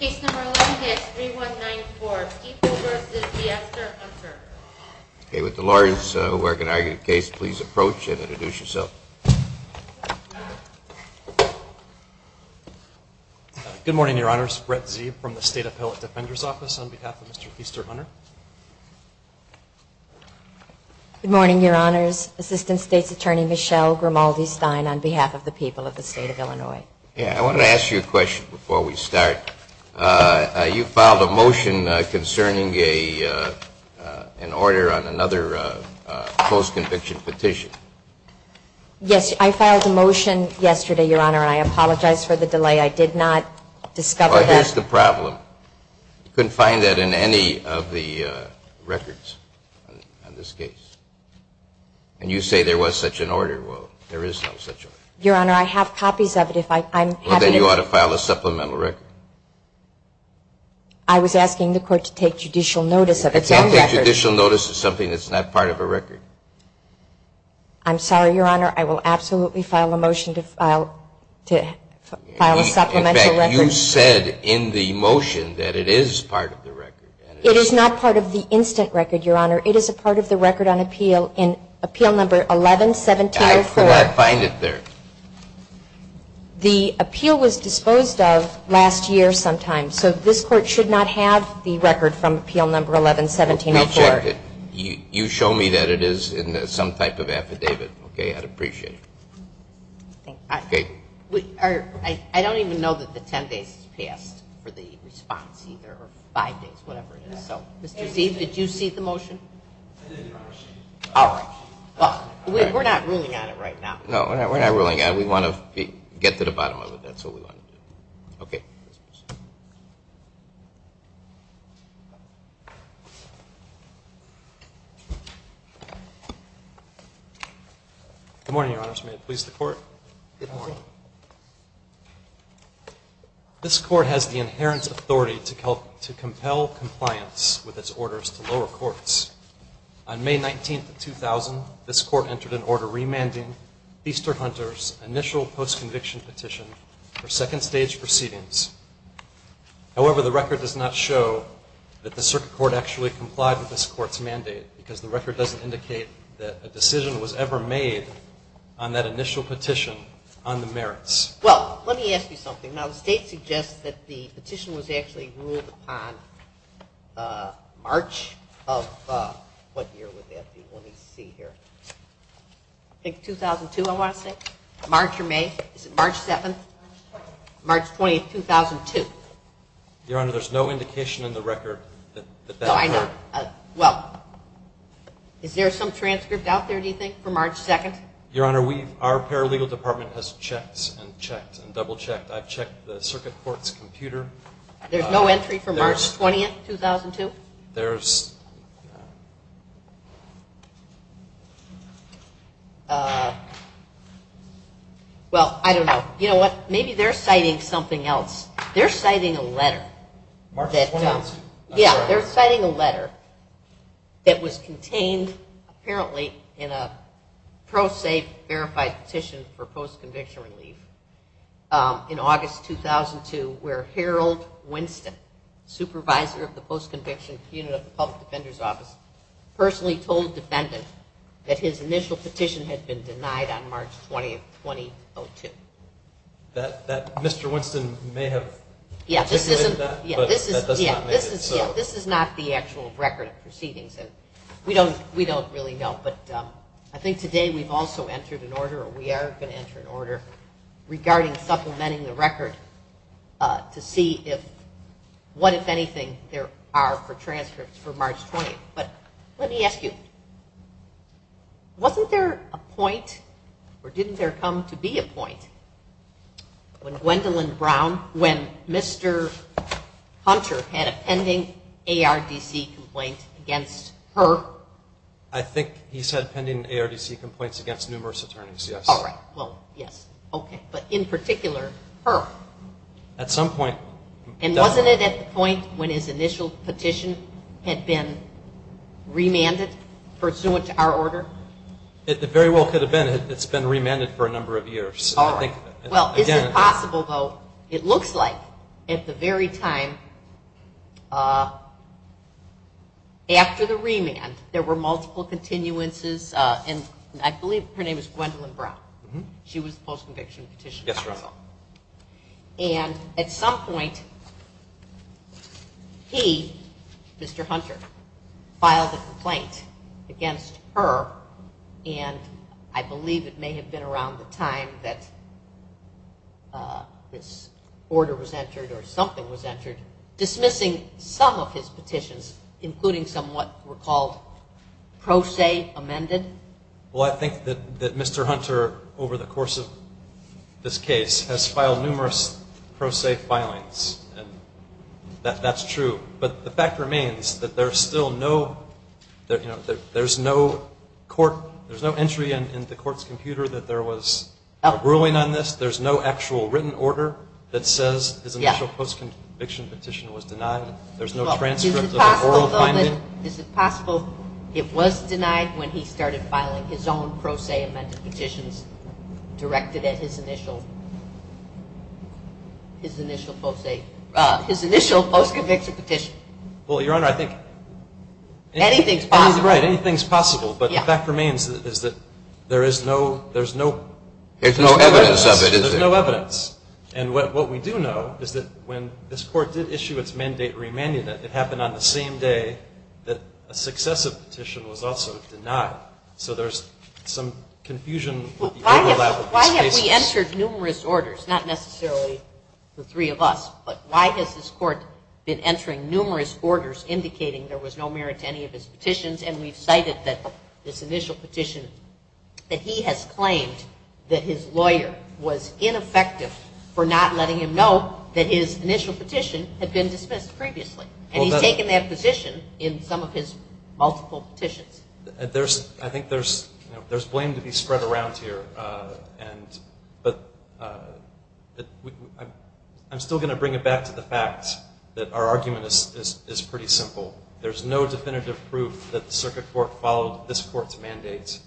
Case number 11, case 3194, Keefe v. F. Sturt Hunter. Okay, with the lawyers who are going to argue the case, please approach and introduce yourself. Good morning, Your Honors. Brett Zeeb from the State Appellate Defender's Office on behalf of Mr. Keefe Sturt Hunter. Good morning, Your Honors. Assistant State's Attorney Michelle Grimaldi-Stein on behalf of the people of the State of Illinois. I wanted to ask you a question before we start. You filed a motion concerning an order on another post-conviction petition. Yes, I filed a motion yesterday, Your Honor, and I apologize for the delay. I did not discover that. That's the problem. You couldn't find that in any of the records on this case. And you say there was such an order. Well, there is no such order. Your Honor, I have copies of it. Well, then you ought to file a supplemental record. I was asking the Court to take judicial notice of its own record. You can't take judicial notice of something that's not part of a record. I'm sorry, Your Honor. I will absolutely file a motion to file a supplemental record. In fact, you said in the motion that it is part of the record. It is not part of the instant record, Your Honor. It is a part of the record on appeal in Appeal Number 11-1704. I could not find it there. The appeal was disposed of last year sometime. So this Court should not have the record from Appeal Number 11-1704. Well, we checked it. You show me that it is in some type of affidavit. Okay? I'd appreciate it. I don't even know that the 10 days passed for the response either, or five days, whatever it is. So, Mr. Sieve, did you see the motion? I did, Your Honor. All right. Well, we're not ruling on it right now. No, we're not ruling on it. We want to get to the bottom of it. That's what we want to do. Okay. Thank you. Good morning, Your Honors. May it please the Court? Good morning. This Court has the inherent authority to compel compliance with its orders to lower courts. On May 19, 2000, this Court entered an order remanding Easter Hunter's initial postconviction petition for second stage proceedings. However, the record does not show that the Circuit Court actually complied with this Court's mandate because the record doesn't indicate that a decision was ever made on that initial petition on the merits. Well, let me ask you something. Now, the State suggests that the petition was actually ruled upon March of what year would that be? Let me see here. I think 2002, I want to say. March or May? Is it March 7th? March 20th, 2002. Your Honor, there's no indication in the record that that occurred. No, I know. Well, is there some transcript out there, do you think, for March 2nd? Your Honor, our paralegal department has checked and checked and double-checked. I've checked the Circuit Court's computer. There's no entry for March 20th, 2002? There is. Well, I don't know. You know what, maybe they're citing something else. They're citing a letter. March 20th? Yeah, they're citing a letter that was contained apparently in a pro se verified petition for postconviction relief in August 2002 where Harold Winston, supervisor of the postconviction unit of the Public Defender's Office, personally told the defendant that his initial petition had been denied on March 20th, 2002. That Mr. Winston may have articulated that, but that does not make it. Yeah, this is not the actual record of proceedings. We don't really know. But I think today we've also entered an order, or we are going to enter an order, regarding supplementing the record to see what, if anything, there are for transcripts for March 20th. But let me ask you, wasn't there a point or didn't there come to be a point when Gwendolyn Brown, when Mr. Hunter had a pending ARDC complaint against her? I think he said pending ARDC complaints against numerous attorneys, yes. All right. Well, yes. Okay. But in particular her? At some point. And wasn't it at the point when his initial petition had been remanded pursuant to our order? It very well could have been. It's been remanded for a number of years. All right. Well, is it possible, though, it looks like at the very time after the remand, there were multiple continuances, and I believe her name is Gwendolyn Brown. She was the post-conviction petitioner. Yes, Your Honor. And at some point he, Mr. Hunter, filed a complaint against her, and I believe it may have been around the time that this order was entered or something was entered, dismissing some of his petitions, including some what were called pro se amended. Well, I think that Mr. Hunter, over the course of this case, has filed numerous pro se filings, and that's true. But the fact remains that there's no entry in the court's computer that there was a ruling on this. There's no actual written order that says his initial post-conviction petition was denied. There's no transcript of the oral finding. Is it possible it was denied when he started filing his own pro se amended petitions directed at his initial post-conviction petition? Well, Your Honor, I think anything's possible. Right, anything's possible. But the fact remains is that there is no evidence of it. There's no evidence. And what we do know is that when this court did issue its mandate remanding it, it happened on the same day that a successive petition was also denied. So there's some confusion with the overlap of these cases. Well, why have we entered numerous orders? Not necessarily the three of us, but why has this court been entering numerous orders indicating there was no merit to any of his petitions? And we've cited that this initial petition that he has claimed that his lawyer was ineffective for not letting him know that his initial petition had been dismissed previously. And he's taken that position in some of his multiple petitions. I think there's blame to be spread around here. But I'm still going to bring it back to the fact that our argument is pretty simple. There's no definitive proof that the circuit court followed this court's mandate.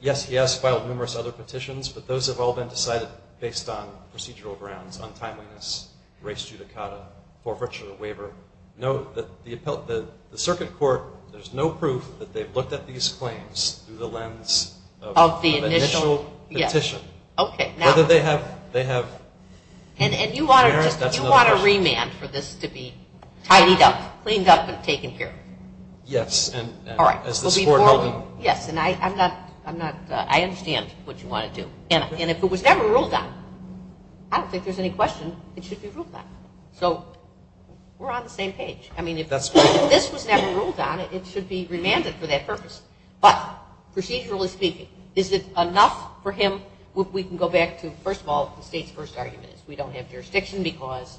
Yes, he has filed numerous other petitions, but those have all been decided based on procedural grounds, untimeliness, race judicata, forfeiture of waiver. The circuit court, there's no proof that they've looked at these claims through the lens of the initial petition. Whether they have merit, that's another question. And you want a remand for this to be tidied up, cleaned up, and taken care of? Yes. All right. Yes, and I understand what you want to do. And if it was never ruled on, I don't think there's any question it should be ruled on. So we're on the same page. I mean, if this was never ruled on, it should be remanded for that purpose. But procedurally speaking, is it enough for him? We can go back to, first of all, the state's first argument is we don't have jurisdiction because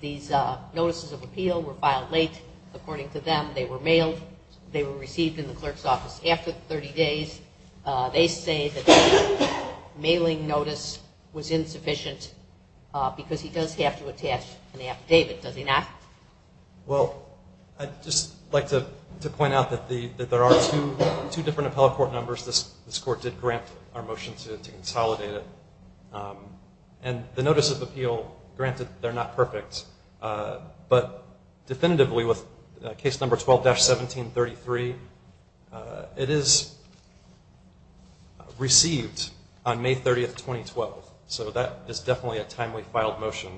these notices of appeal were filed late. According to them, they were mailed. They were received in the clerk's office after 30 days. They say that the mailing notice was insufficient because he does have to attach an affidavit, does he not? Well, I'd just like to point out that there are two different appellate court numbers. This court did grant our motion to consolidate it. And the notice of appeal, granted they're not perfect, but definitively with case number 12-1733, it is received on May 30th, 2012. So that is definitely a timely filed motion.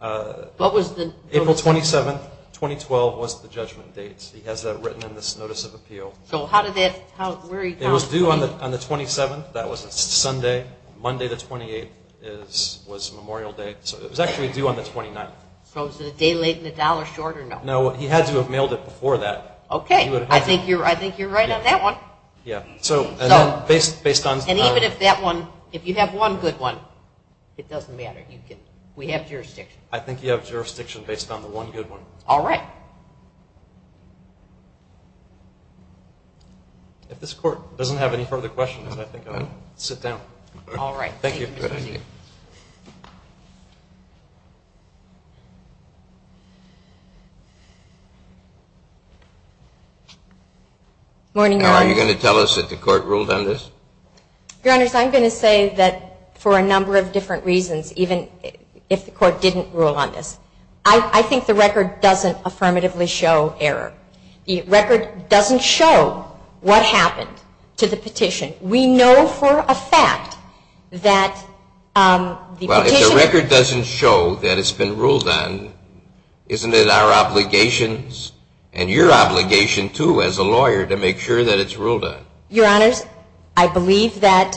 What was the date? April 27th, 2012 was the judgment date. He has that written in this notice of appeal. So how did that, where he found it? It was due on the 27th. That was a Sunday. Monday the 28th was Memorial Day. So it was actually due on the 29th. So was it a day late and a dollar short or no? No, he had to have mailed it before that. Okay, I think you're right on that one. And even if that one, if you have one good one, it doesn't matter. We have jurisdiction. I think you have jurisdiction based on the one good one. All right. If this court doesn't have any further questions, I think I'll sit down. All right. Thank you. Are you going to tell us that the court ruled on this? Your Honors, I'm going to say that for a number of different reasons, even if the court didn't rule on this. I think the record doesn't affirmatively show error. The record doesn't show what happened to the petition. We know for a fact that the petitioner. Well, if the record doesn't show that it's been ruled on, isn't it our obligations and your obligation too as a lawyer to make sure that it's ruled on? Your Honors, I believe that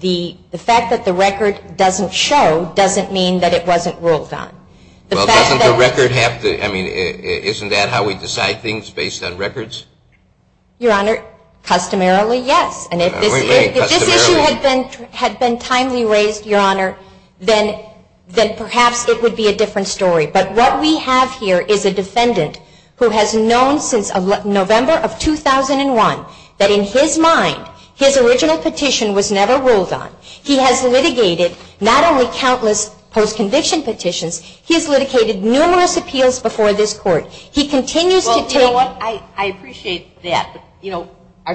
the fact that the record doesn't show doesn't mean that it wasn't ruled on. Well, doesn't the record have to, I mean, isn't that how we decide things based on records? Your Honor, customarily, yes. And if this issue had been timely raised, Your Honor, then perhaps it would be a different story. But what we have here is a defendant who has known since November of 2001 that in his mind, his original petition was never ruled on. He has litigated not only countless post-conviction petitions, he has litigated numerous appeals before this court. He continues to take. Well, you know what, I appreciate that. But, you know,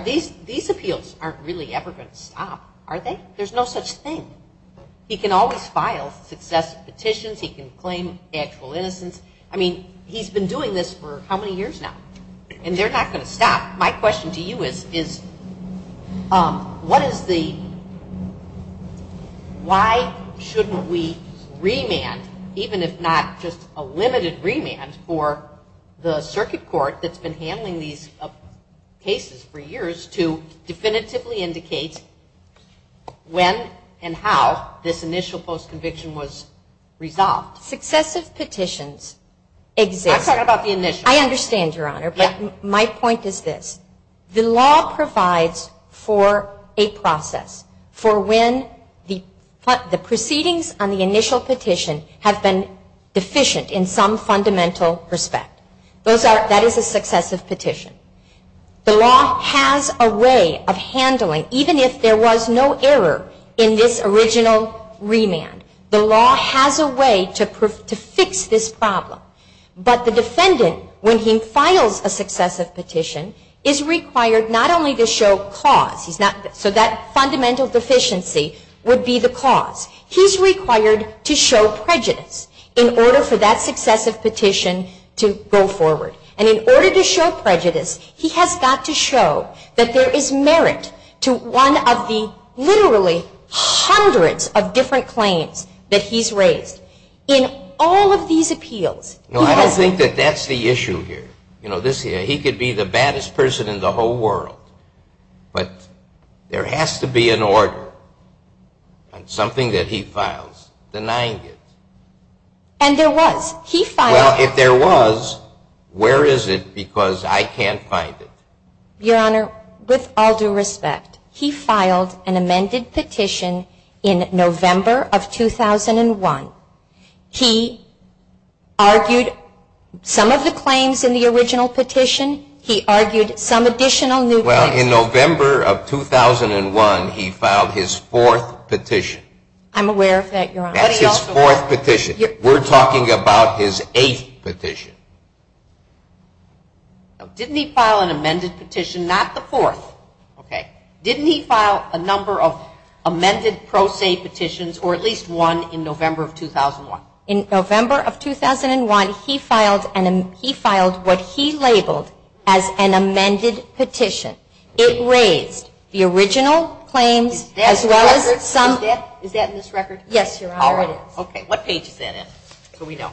these appeals aren't really ever going to stop, are they? There's no such thing. He can always file successive petitions. He can claim actual innocence. I mean, he's been doing this for how many years now? And they're not going to stop. My question to you is, what is the, why shouldn't we remand, even if not just a limited remand, for the circuit court that's been handling these cases for years to definitively indicate when and how this initial post-conviction was resolved? Successive petitions exist. I'm talking about the initial. I understand, Your Honor, but my point is this. The law provides for a process for when the proceedings on the initial petition have been deficient in some fundamental respect. Those are, that is a successive petition. The law has a way of handling, even if there was no error in this original remand, the law has a way to fix this problem. But the defendant, when he files a successive petition, is required not only to show cause, so that fundamental deficiency would be the cause, he's required to show prejudice in order for that successive petition to go forward. And in order to show prejudice, he has got to show that there is merit to one of the literally hundreds of different claims that he's raised. In all of these appeals, he has... No, I don't think that that's the issue here. You know, this here, he could be the baddest person in the whole world, but there has to be an order on something that he files denying it. And there was. He filed... Well, if there was, where is it? Because I can't find it. Your Honor, with all due respect, he filed an amended petition in November of 2001. He argued some of the claims in the original petition. He argued some additional new claims. Well, in November of 2001, he filed his fourth petition. I'm aware of that, Your Honor. That's his fourth petition. We're talking about his eighth petition. Now, didn't he file an amended petition? Not the fourth, okay? Didn't he file a number of amended pro se petitions or at least one in November of 2001? In November of 2001, he filed what he labeled as an amended petition. It raised the original claims as well as some... Is that in this record? Yes, Your Honor, it is. Okay, what page is that in so we know?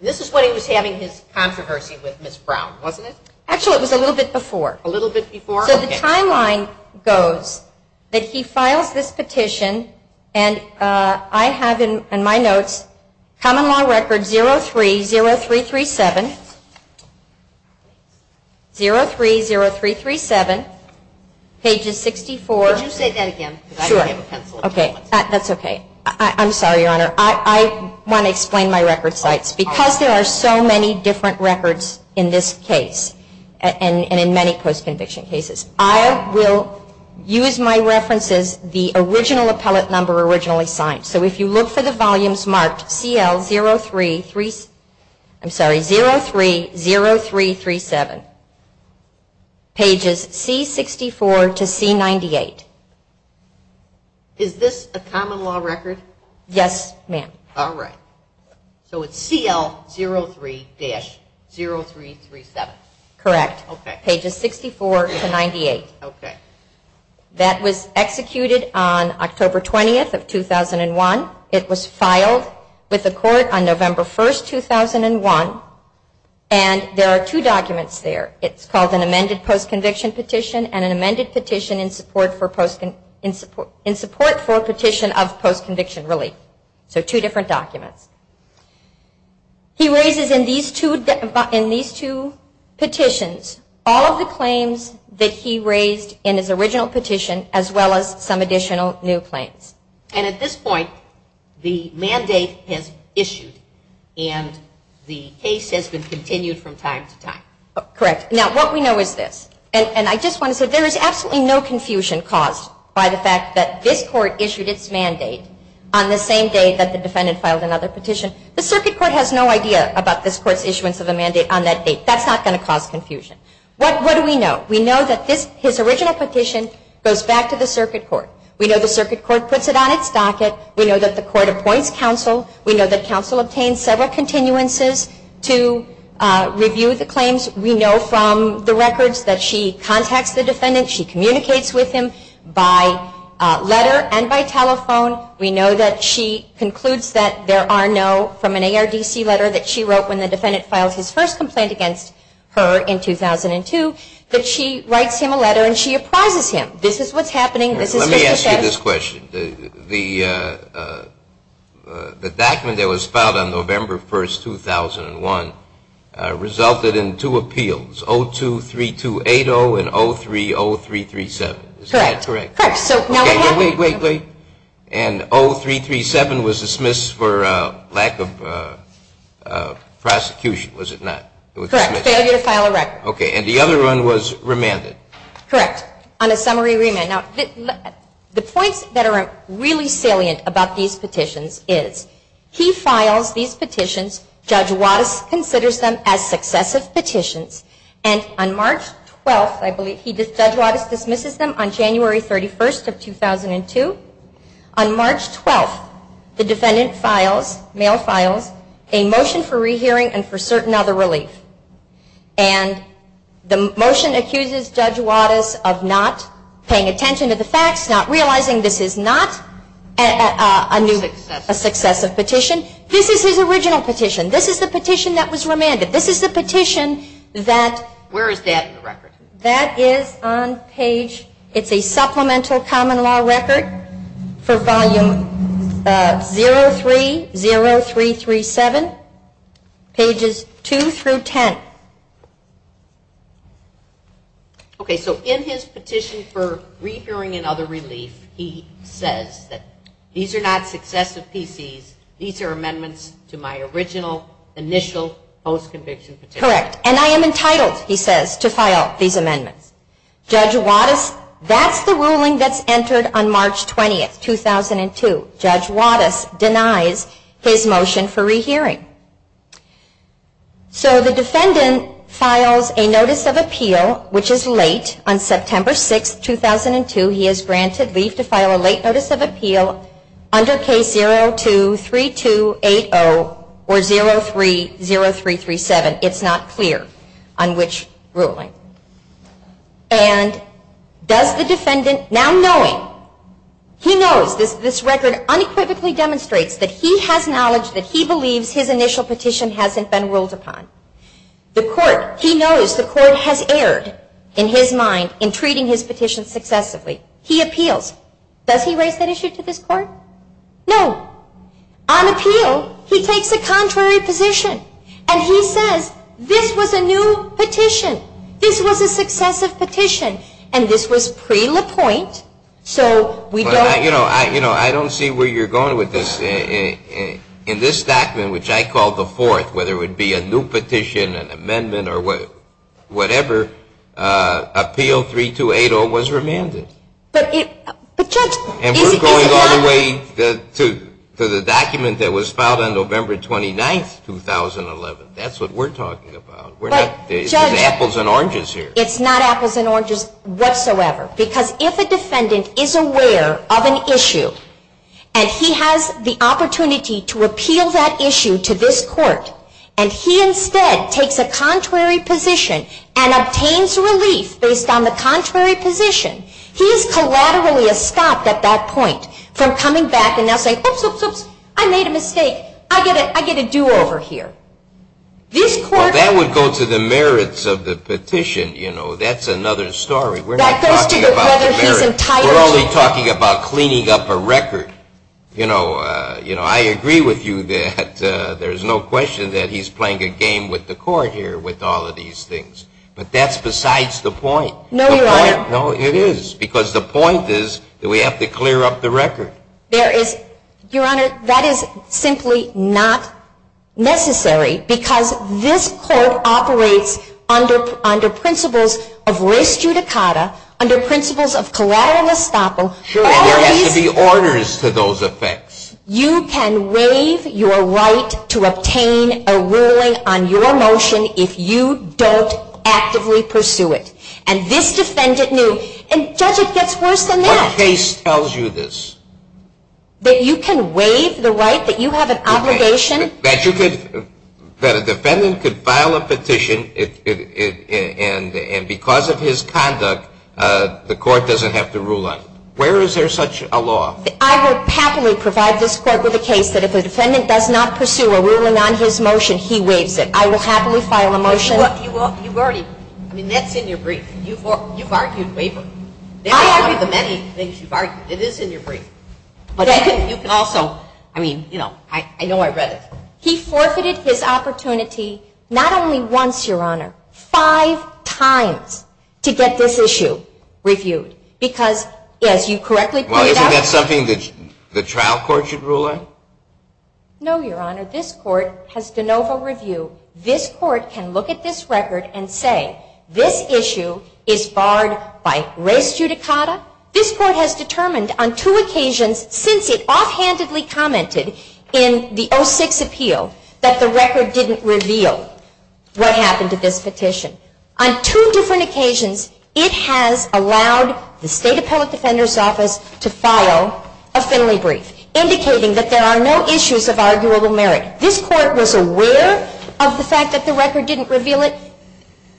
This is when he was having his controversy with Ms. Brown, wasn't it? Actually, it was a little bit before. A little bit before? Okay. So the timeline goes that he files this petition, and I have in my notes Common Law Record 030337, 030337, pages 64... Could you say that again? Sure. Okay, that's okay. I'm sorry, Your Honor. I want to explain my record sites. Because there are so many different records in this case and in many post-conviction cases, I will use my references, the original appellate number originally signed. So if you look for the volumes marked 030337, pages C64 to C98. Is this a Common Law Record? Yes, ma'am. All right. So it's CL03-0337. Correct. Okay. Pages 64 to 98. Okay. That was executed on October 20th of 2001. It was filed with the court on November 1st, 2001. And there are two documents there. It's called an amended post-conviction petition and an amended petition in support for a petition of post-conviction relief. So two different documents. He raises in these two petitions all of the claims that he raised in his original petition as well as some additional new claims. And at this point, the mandate has issued and the case has been continued from time to time. Correct. Now, what we know is this, and I just want to say there is absolutely no confusion caused by the fact that this court issued its mandate on the same day that the defendant filed another petition. The circuit court has no idea about this court's issuance of a mandate on that date. That's not going to cause confusion. What do we know? We know that his original petition goes back to the circuit court. We know the circuit court puts it on its docket. We know that the court appoints counsel. We know that counsel obtains several continuances to review the claims. We know from the records that she contacts the defendant. She communicates with him by letter and by telephone. We know that she concludes that there are no, from an ARDC letter that she wrote when the defendant filed his first complaint against her in 2002, that she writes him a letter and she apprises him. This is what's happening. Let me ask you this question. The document that was filed on November 1, 2001, resulted in two appeals, 023280 and 030337. Is that correct? Correct. Wait, wait, wait. And 0337 was dismissed for lack of prosecution, was it not? Correct. Failure to file a record. Okay. And the other one was remanded. Correct. On a summary remand. Now, the points that are really salient about these petitions is he files these petitions, Judge Wattis considers them as successive petitions, and on March 12th, I believe, Judge Wattis dismisses them on January 31st of 2002. On March 12th, the defendant files, mail files, a motion for rehearing and for certain other relief. And the motion accuses Judge Wattis of not paying attention to the facts, not realizing this is not a successive petition. This is his original petition. This is the petition that was remanded. This is the petition that. Where is that in the record? That is on page. It's a supplemental common law record for volume 030337, pages 2 through 10. Okay. So in his petition for rehearing and other relief, he says that these are not successive PCs. These are amendments to my original initial post-conviction petition. Correct. And I am entitled, he says, to file these amendments. Judge Wattis, that's the ruling that's entered on March 20th, 2002. Judge Wattis denies his motion for rehearing. So the defendant files a notice of appeal, which is late. On September 6th, 2002, he is granted leave to file a late notice of appeal under case 023280 or 030337. But it's not clear on which ruling. And does the defendant, now knowing, he knows this record unequivocally demonstrates that he has knowledge that he believes his initial petition hasn't been ruled upon. The court, he knows the court has erred in his mind in treating his petition successively. He appeals. Does he raise that issue to this court? No. On appeal, he takes a contrary position. And he says, this was a new petition. This was a successive petition. And this was pre-LaPointe. So we don't. You know, I don't see where you're going with this. In this document, which I call the fourth, whether it would be a new petition, an amendment, or whatever, appeal 3280 was remanded. And we're going all the way to the document that was filed on November 29th, 2011. That's what we're talking about. There's apples and oranges here. It's not apples and oranges whatsoever. Because if a defendant is aware of an issue, and he has the opportunity to appeal that issue to this court, and he instead takes a contrary position and obtains relief based on the contrary position, he is collaterally stopped at that point from coming back and now saying, oops, oops, oops, I made a mistake. I get a do-over here. Well, that would go to the merits of the petition. You know, that's another story. We're not talking about the merits. We're only talking about cleaning up a record. You know, I agree with you that there's no question that he's playing a game with the court here with all of these things. But that's besides the point. No, Your Honor. No, it is. Because the point is that we have to clear up the record. Your Honor, that is simply not necessary because this court operates under principles of res judicata, under principles of collateral estoppel. Sure. There has to be orders to those effects. You can waive your right to obtain a ruling on your motion if you don't actively pursue it. And this defendant knew. And, Judge, it gets worse than that. What case tells you this? That you can waive the right, that you have an obligation. That you could, that a defendant could file a petition and because of his conduct, the court doesn't have to rule on it. Where is there such a law? I will happily provide this court with a case that if a defendant does not pursue a ruling on his motion, he waives it. I will happily file a motion. You've already, I mean, that's in your brief. You've argued wavering. I argued the many things you've argued. It is in your brief. But you can also, I mean, you know, I know I read it. He forfeited his opportunity not only once, Your Honor, five times to get this issue reviewed. Because as you correctly pointed out. Well, isn't that something that the trial court should rule on? No, Your Honor. This court has de novo review. This court can look at this record and say this issue is barred by res judicata. This court has determined on two occasions since it offhandedly commented in the 06 appeal that the record didn't reveal what happened to this petition. On two different occasions, it has allowed the State Appellate Defender's Office to file a Finley brief. Indicating that there are no issues of arguable merit. This court was aware of the fact that the record didn't reveal it.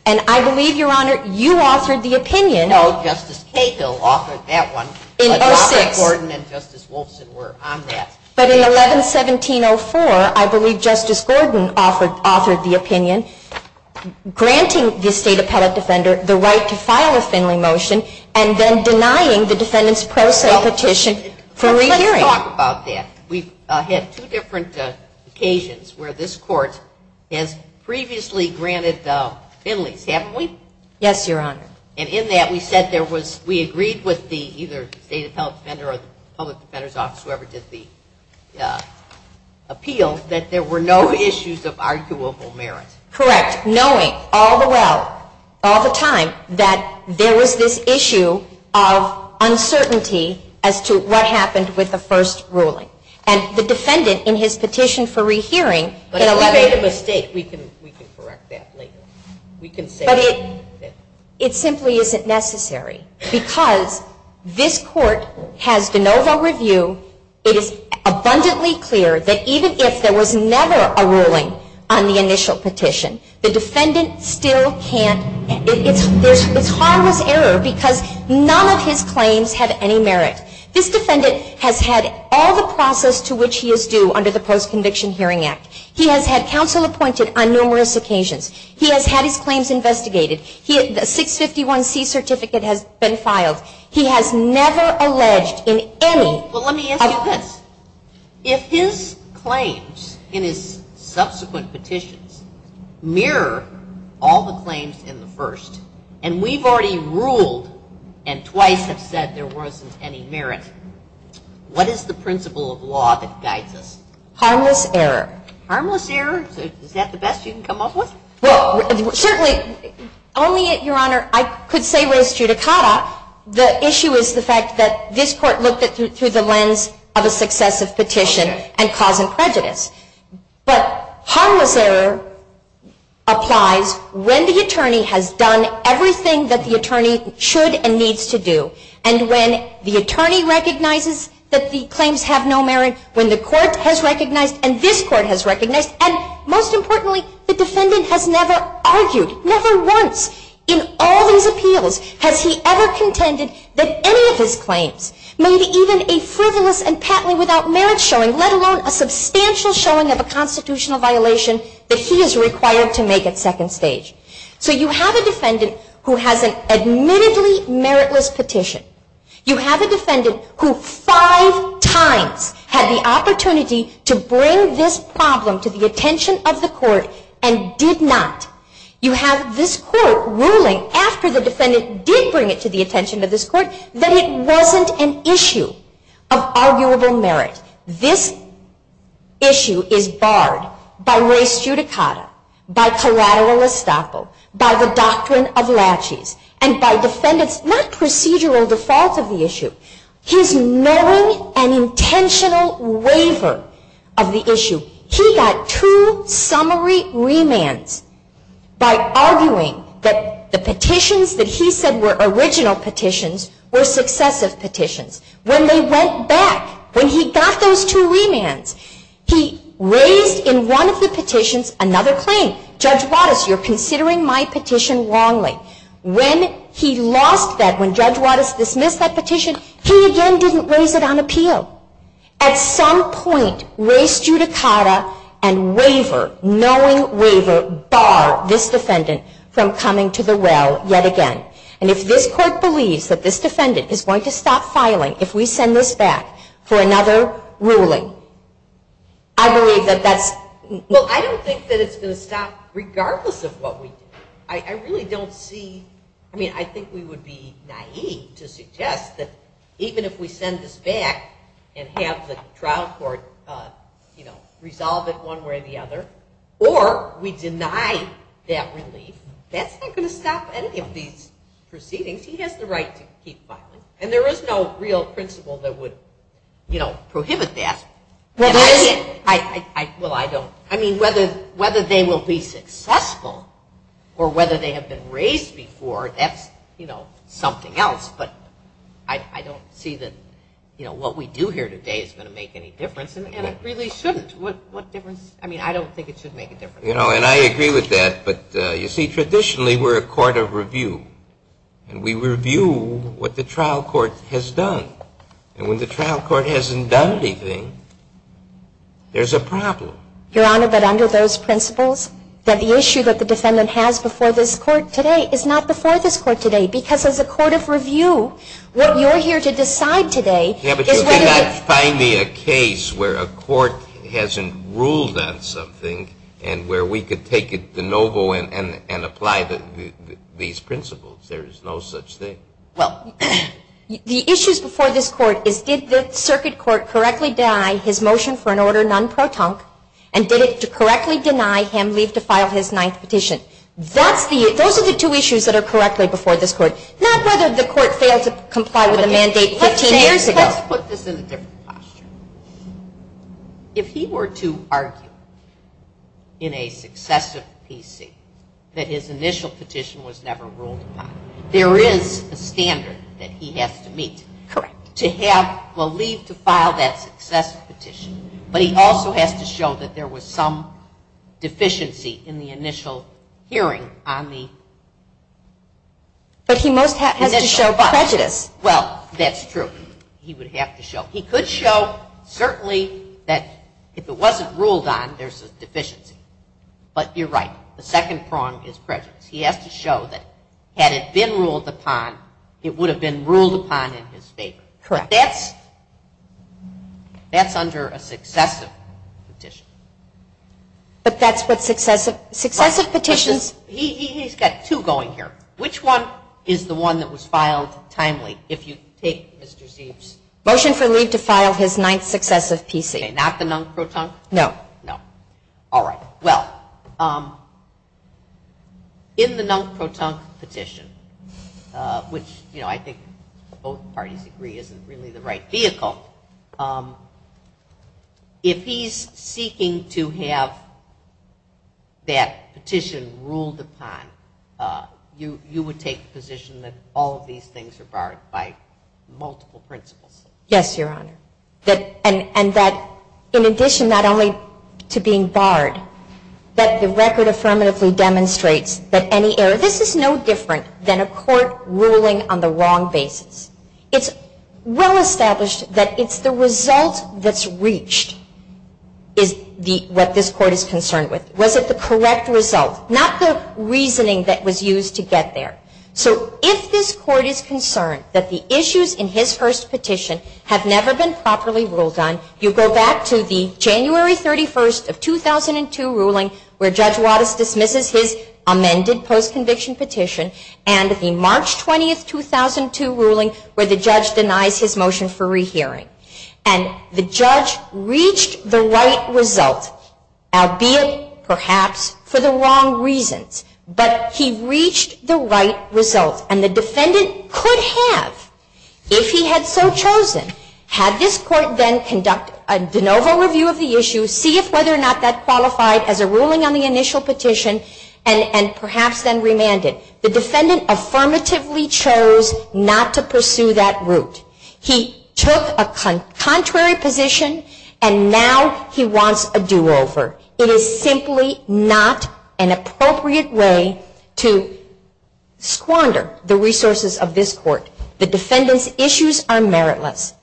And I believe, Your Honor, you authored the opinion. No, Justice Cahill authored that one. But Robert Gordon and Justice Wolfson were on that. But in 11-1704, I believe Justice Gordon authored the opinion granting the State Appellate Defender the right to file a Finley motion. And then denying the defendant's pro se petition for re-hearing. Let's talk about that. We've had two different occasions where this court has previously granted Finleys, haven't we? Yes, Your Honor. And in that, we said there was, we agreed with the either State Appellate Defender or the Public Defender's Office, whoever did the appeal, that there were no issues of arguable merit. Correct. Knowing all the well, all the time, that there was this issue of uncertainty as to what happened with the first ruling. And the defendant, in his petition for re-hearing, in 11- But if we made a mistake, we can correct that later. We can say that. But it simply isn't necessary. Because this court has de novo review. It is abundantly clear that even if there was never a ruling on the initial petition, the defendant still can't, it's harmless error because none of his claims have any merit. This defendant has had all the process to which he is due under the Post-Conviction Hearing Act. He has had counsel appointed on numerous occasions. He has had his claims investigated. The 651C certificate has been filed. He has never alleged in any- Well, let me ask you this. If his claims in his subsequent petitions mirror all the claims in the first, and we've already ruled and twice have said there wasn't any merit, what is the principle of law that guides us? Harmless error. Harmless error? Is that the best you can come up with? Well, certainly, only, Your Honor, I could say res judicata. The issue is the fact that this court looked at it through the lens of a successive petition and cause and prejudice. But harmless error applies when the attorney has done everything that the attorney should and needs to do. And when the attorney recognizes that the claims have no merit, when the court has recognized and this court has recognized, and most importantly, the defendant has never argued, never once, in all these appeals, has he ever contended that any of his claims may be even a frivolous and patently without merit showing, let alone a substantial showing of a constitutional violation that he is required to make at second stage. So you have a defendant who has an admittedly meritless petition. You have a defendant who five times had the opportunity to bring this problem to the attention of the court and did not. You have this court ruling after the defendant did bring it to the attention of this court that it wasn't an issue of arguable merit. This issue is barred by res judicata, by collateral estoppel, by the doctrine of laches, and by defendants not procedural defaults of the issue. He's knowing an intentional waiver of the issue. He got two summary remands by arguing that the petitions that he said were original petitions were successive petitions. When they went back, when he got those two remands, he raised in one of the petitions another claim. Judge Wattis, you're considering my petition wrongly. When he lost that, when Judge Wattis dismissed that petition, he again didn't raise it on appeal. At some point, res judicata and waiver, knowing waiver, bar this defendant from coming to the well yet again. And if this court believes that this defendant is going to stop filing if we send this back for another ruling, I believe that that's... But regardless of what we do, I really don't see, I mean, I think we would be naive to suggest that even if we send this back and have the trial court, you know, resolve it one way or the other, or we deny that relief, that's not going to stop any of these proceedings. He has the right to keep filing, and there is no real principle that would, you know, prohibit that. Well, I don't. I mean, whether they will be successful or whether they have been raised before, that's, you know, something else. But I don't see that, you know, what we do here today is going to make any difference. And it really shouldn't. What difference? I mean, I don't think it should make a difference. You know, and I agree with that. But, you see, traditionally we're a court of review, and we review what the trial court has done. And when the trial court hasn't done anything, there's a problem. Your Honor, but under those principles, that the issue that the defendant has before this court today is not before this court today, because as a court of review, what you're here to decide today is what is... Yeah, but you could not find me a case where a court hasn't ruled on something and where we could take it de novo and apply these principles. There is no such thing. Well, the issues before this court is did the circuit court correctly deny his motion for an order non-protunct and did it correctly deny him leave to file his ninth petition? Those are the two issues that are correctly before this court, not whether the court failed to comply with the mandate 15 years ago. Let's put this in a different posture. If he were to argue in a successive PC that his initial petition was never ruled upon, there is a standard that he has to meet. Correct. To have, well, leave to file that successive petition, but he also has to show that there was some deficiency in the initial hearing on the... But he most happens to show prejudice. Well, that's true. He would have to show. He could show certainly that if it wasn't ruled on, there's a deficiency. But you're right. The second prong is prejudice. He has to show that had it been ruled upon, it would have been ruled upon in his favor. Correct. But that's under a successive petition. But that's what successive petitions... He's got two going here. Which one is the one that was filed timely if you take Mr. Zeeb's... Motion for leave to file his ninth successive PC. Not the non-protunct? No. No. All right. Well, in the non-protunct petition, which I think both parties agree isn't really the right vehicle, if he's seeking to have that petition ruled upon, you would take the position that all of these things are barred by multiple principles. Yes, Your Honor. And that in addition not only to being barred, that the record affirmatively demonstrates that any error... This is no different than a court ruling on the wrong basis. It's well established that it's the result that's reached is what this court is concerned with. Was it the correct result? Not the reasoning that was used to get there. So if this court is concerned that the issues in his first petition have never been properly ruled on, you go back to the January 31st of 2002 ruling where Judge Wattis dismisses his amended post-conviction petition and the March 20th, 2002 ruling where the judge denies his motion for rehearing. And the judge reached the right result, albeit perhaps for the wrong reasons. But he reached the right result, and the defendant could have, if he had so chosen, had this court then conducted a de novo review of the issue, see if whether or not that qualified as a ruling on the initial petition, and perhaps then remanded. The defendant affirmatively chose not to pursue that route. He took a contrary position, and now he wants a do-over. It is simply not an appropriate way to squander the resources of this court. The defendant's issues are meritless.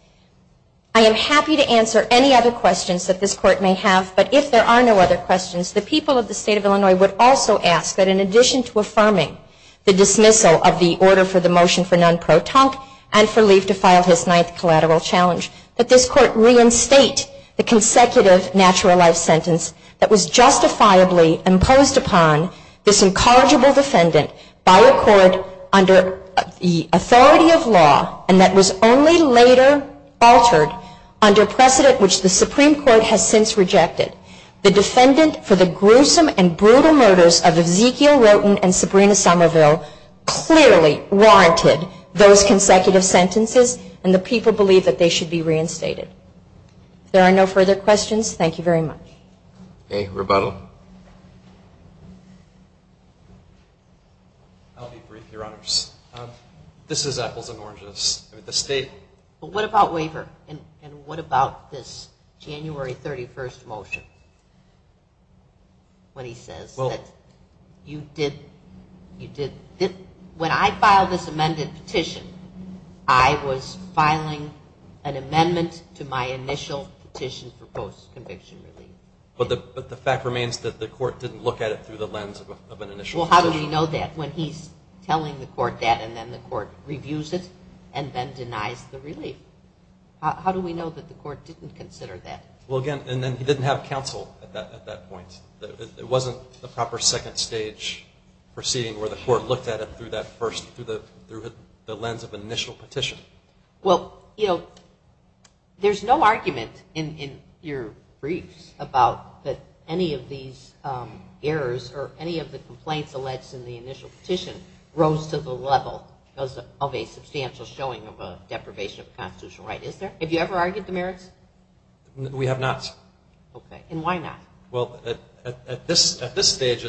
I am happy to answer any other questions that this court may have, but if there are no other questions, the people of the state of Illinois would also ask that in addition to affirming the dismissal of the order for the motion for non-pro tonque and for Leif to file his ninth collateral challenge, that this court reinstate the consecutive natural life sentence that was justifiably imposed upon this incorrigible defendant by a court under the authority of law and that was only later altered under precedent which the Supreme Court has since rejected. The defendant for the gruesome and brutal murders of Ezekiel Roten and Sabrina Somerville clearly warranted those consecutive sentences, and the people believe that they should be reinstated. If there are no further questions, thank you very much. Okay. Rebuttal. I'll be brief, Your Honors. This is Apples and Oranges. When he says that you did, you did, when I filed this amended petition, I was filing an amendment to my initial petition for post-conviction relief. But the fact remains that the court didn't look at it through the lens of an initial petition. Well, how do we know that when he's telling the court that and then the court reviews it and then denies the relief? How do we know that the court didn't consider that? Well, again, and then he didn't have counsel at that point. It wasn't the proper second stage proceeding where the court looked at it through the lens of an initial petition. Well, you know, there's no argument in your briefs about that any of these errors or any of the complaints alleged in the initial petition rose to the level of a substantial showing of a deprivation of constitutional right, is there? Have you ever argued the merits? We have not. Okay. And why not? Well, at this stage,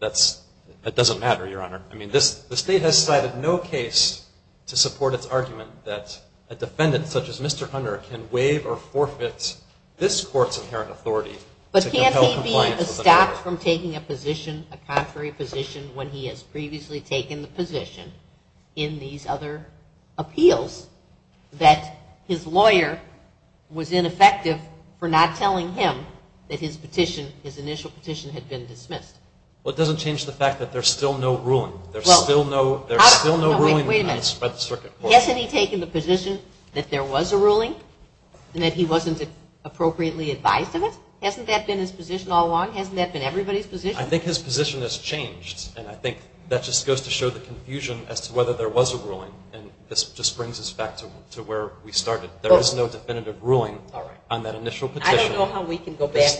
that doesn't matter, Your Honor. I mean, the state has cited no case to support its argument that a defendant such as Mr. Hunter can waive or forfeit this court's inherent authority. But can't he be stopped from taking a position, a contrary position, when he has previously taken the position in these other appeals that his lawyer was ineffective for not telling him that his petition, his initial petition had been dismissed? Well, it doesn't change the fact that there's still no ruling. There's still no ruling in the United States Circuit Court. Hasn't he taken the position that there was a ruling and that he wasn't appropriately advised of it? Hasn't that been his position all along? Hasn't that been everybody's position? I think his position has changed, and I think that just goes to show the confusion as to whether there was a ruling, and this just brings us back to where we started. There is no definitive ruling on that initial petition. I don't know how we can go back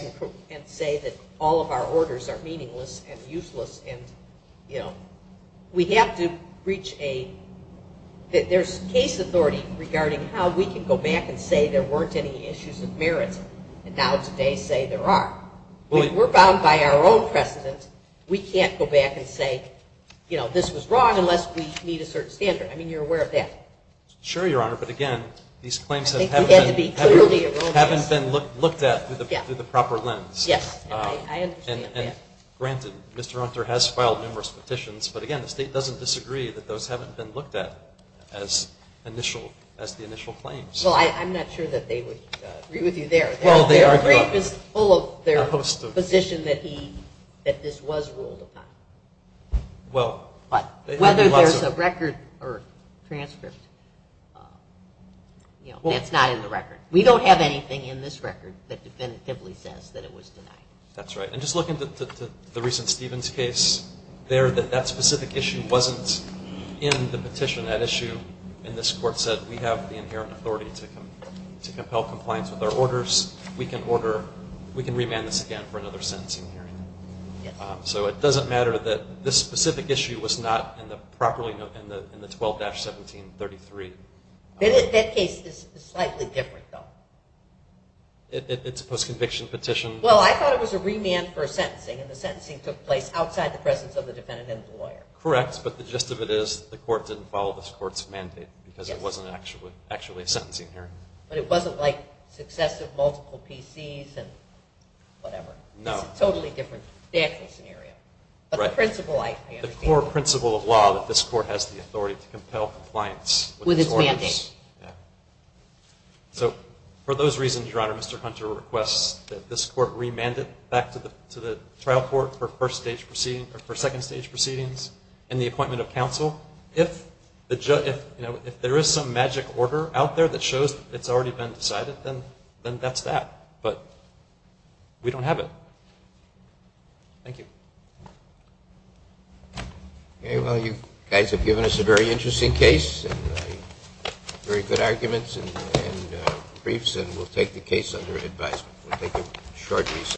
and say that all of our orders are meaningless and useless and, you know, we have to reach a – that there's case authority regarding how we can go back and say there weren't any issues of merit and now today say there are. We're bound by our own precedent. We can't go back and say, you know, this was wrong unless we meet a certain standard. I mean, you're aware of that. Sure, Your Honor, but, again, these claims haven't been looked at through the proper lens. Yes, I understand that. Granted, Mr. Hunter has filed numerous petitions, but, again, the state doesn't disagree that those haven't been looked at as the initial claims. Well, I'm not sure that they would agree with you there. Their brief is full of their position that this was ruled upon. But whether there's a record or transcript, you know, that's not in the record. We don't have anything in this record that definitively says that it was denied. That's right. And just looking to the recent Stevens case there, that that specific issue wasn't in the petition. That issue in this court said we have the inherent authority to compel compliance with our orders. We can order – we can remand this again for another sentencing hearing. So it doesn't matter that this specific issue was not in the 12-1733. That case is slightly different, though. It's a post-conviction petition. Well, I thought it was a remand for a sentencing, and the sentencing took place outside the presence of the defendant and the lawyer. Correct, but the gist of it is the court didn't follow this court's mandate because it wasn't actually a sentencing hearing. But it wasn't like successive multiple PCs and whatever. No. It's a totally different statute scenario. But the principle I understand. The core principle of law that this court has the authority to compel compliance with its orders. With its mandate. Yeah. So for those reasons, Your Honor, Mr. Hunter requests that this court remand it back to the trial court for first-stage proceedings – or for second-stage proceedings and the appointment of counsel. If there is some magic order out there that shows it's already been decided, then that's that. But we don't have it. Thank you. Okay. Well, you guys have given us a very interesting case and very good arguments and briefs, and we'll take the case under advisement. We'll take a short recess.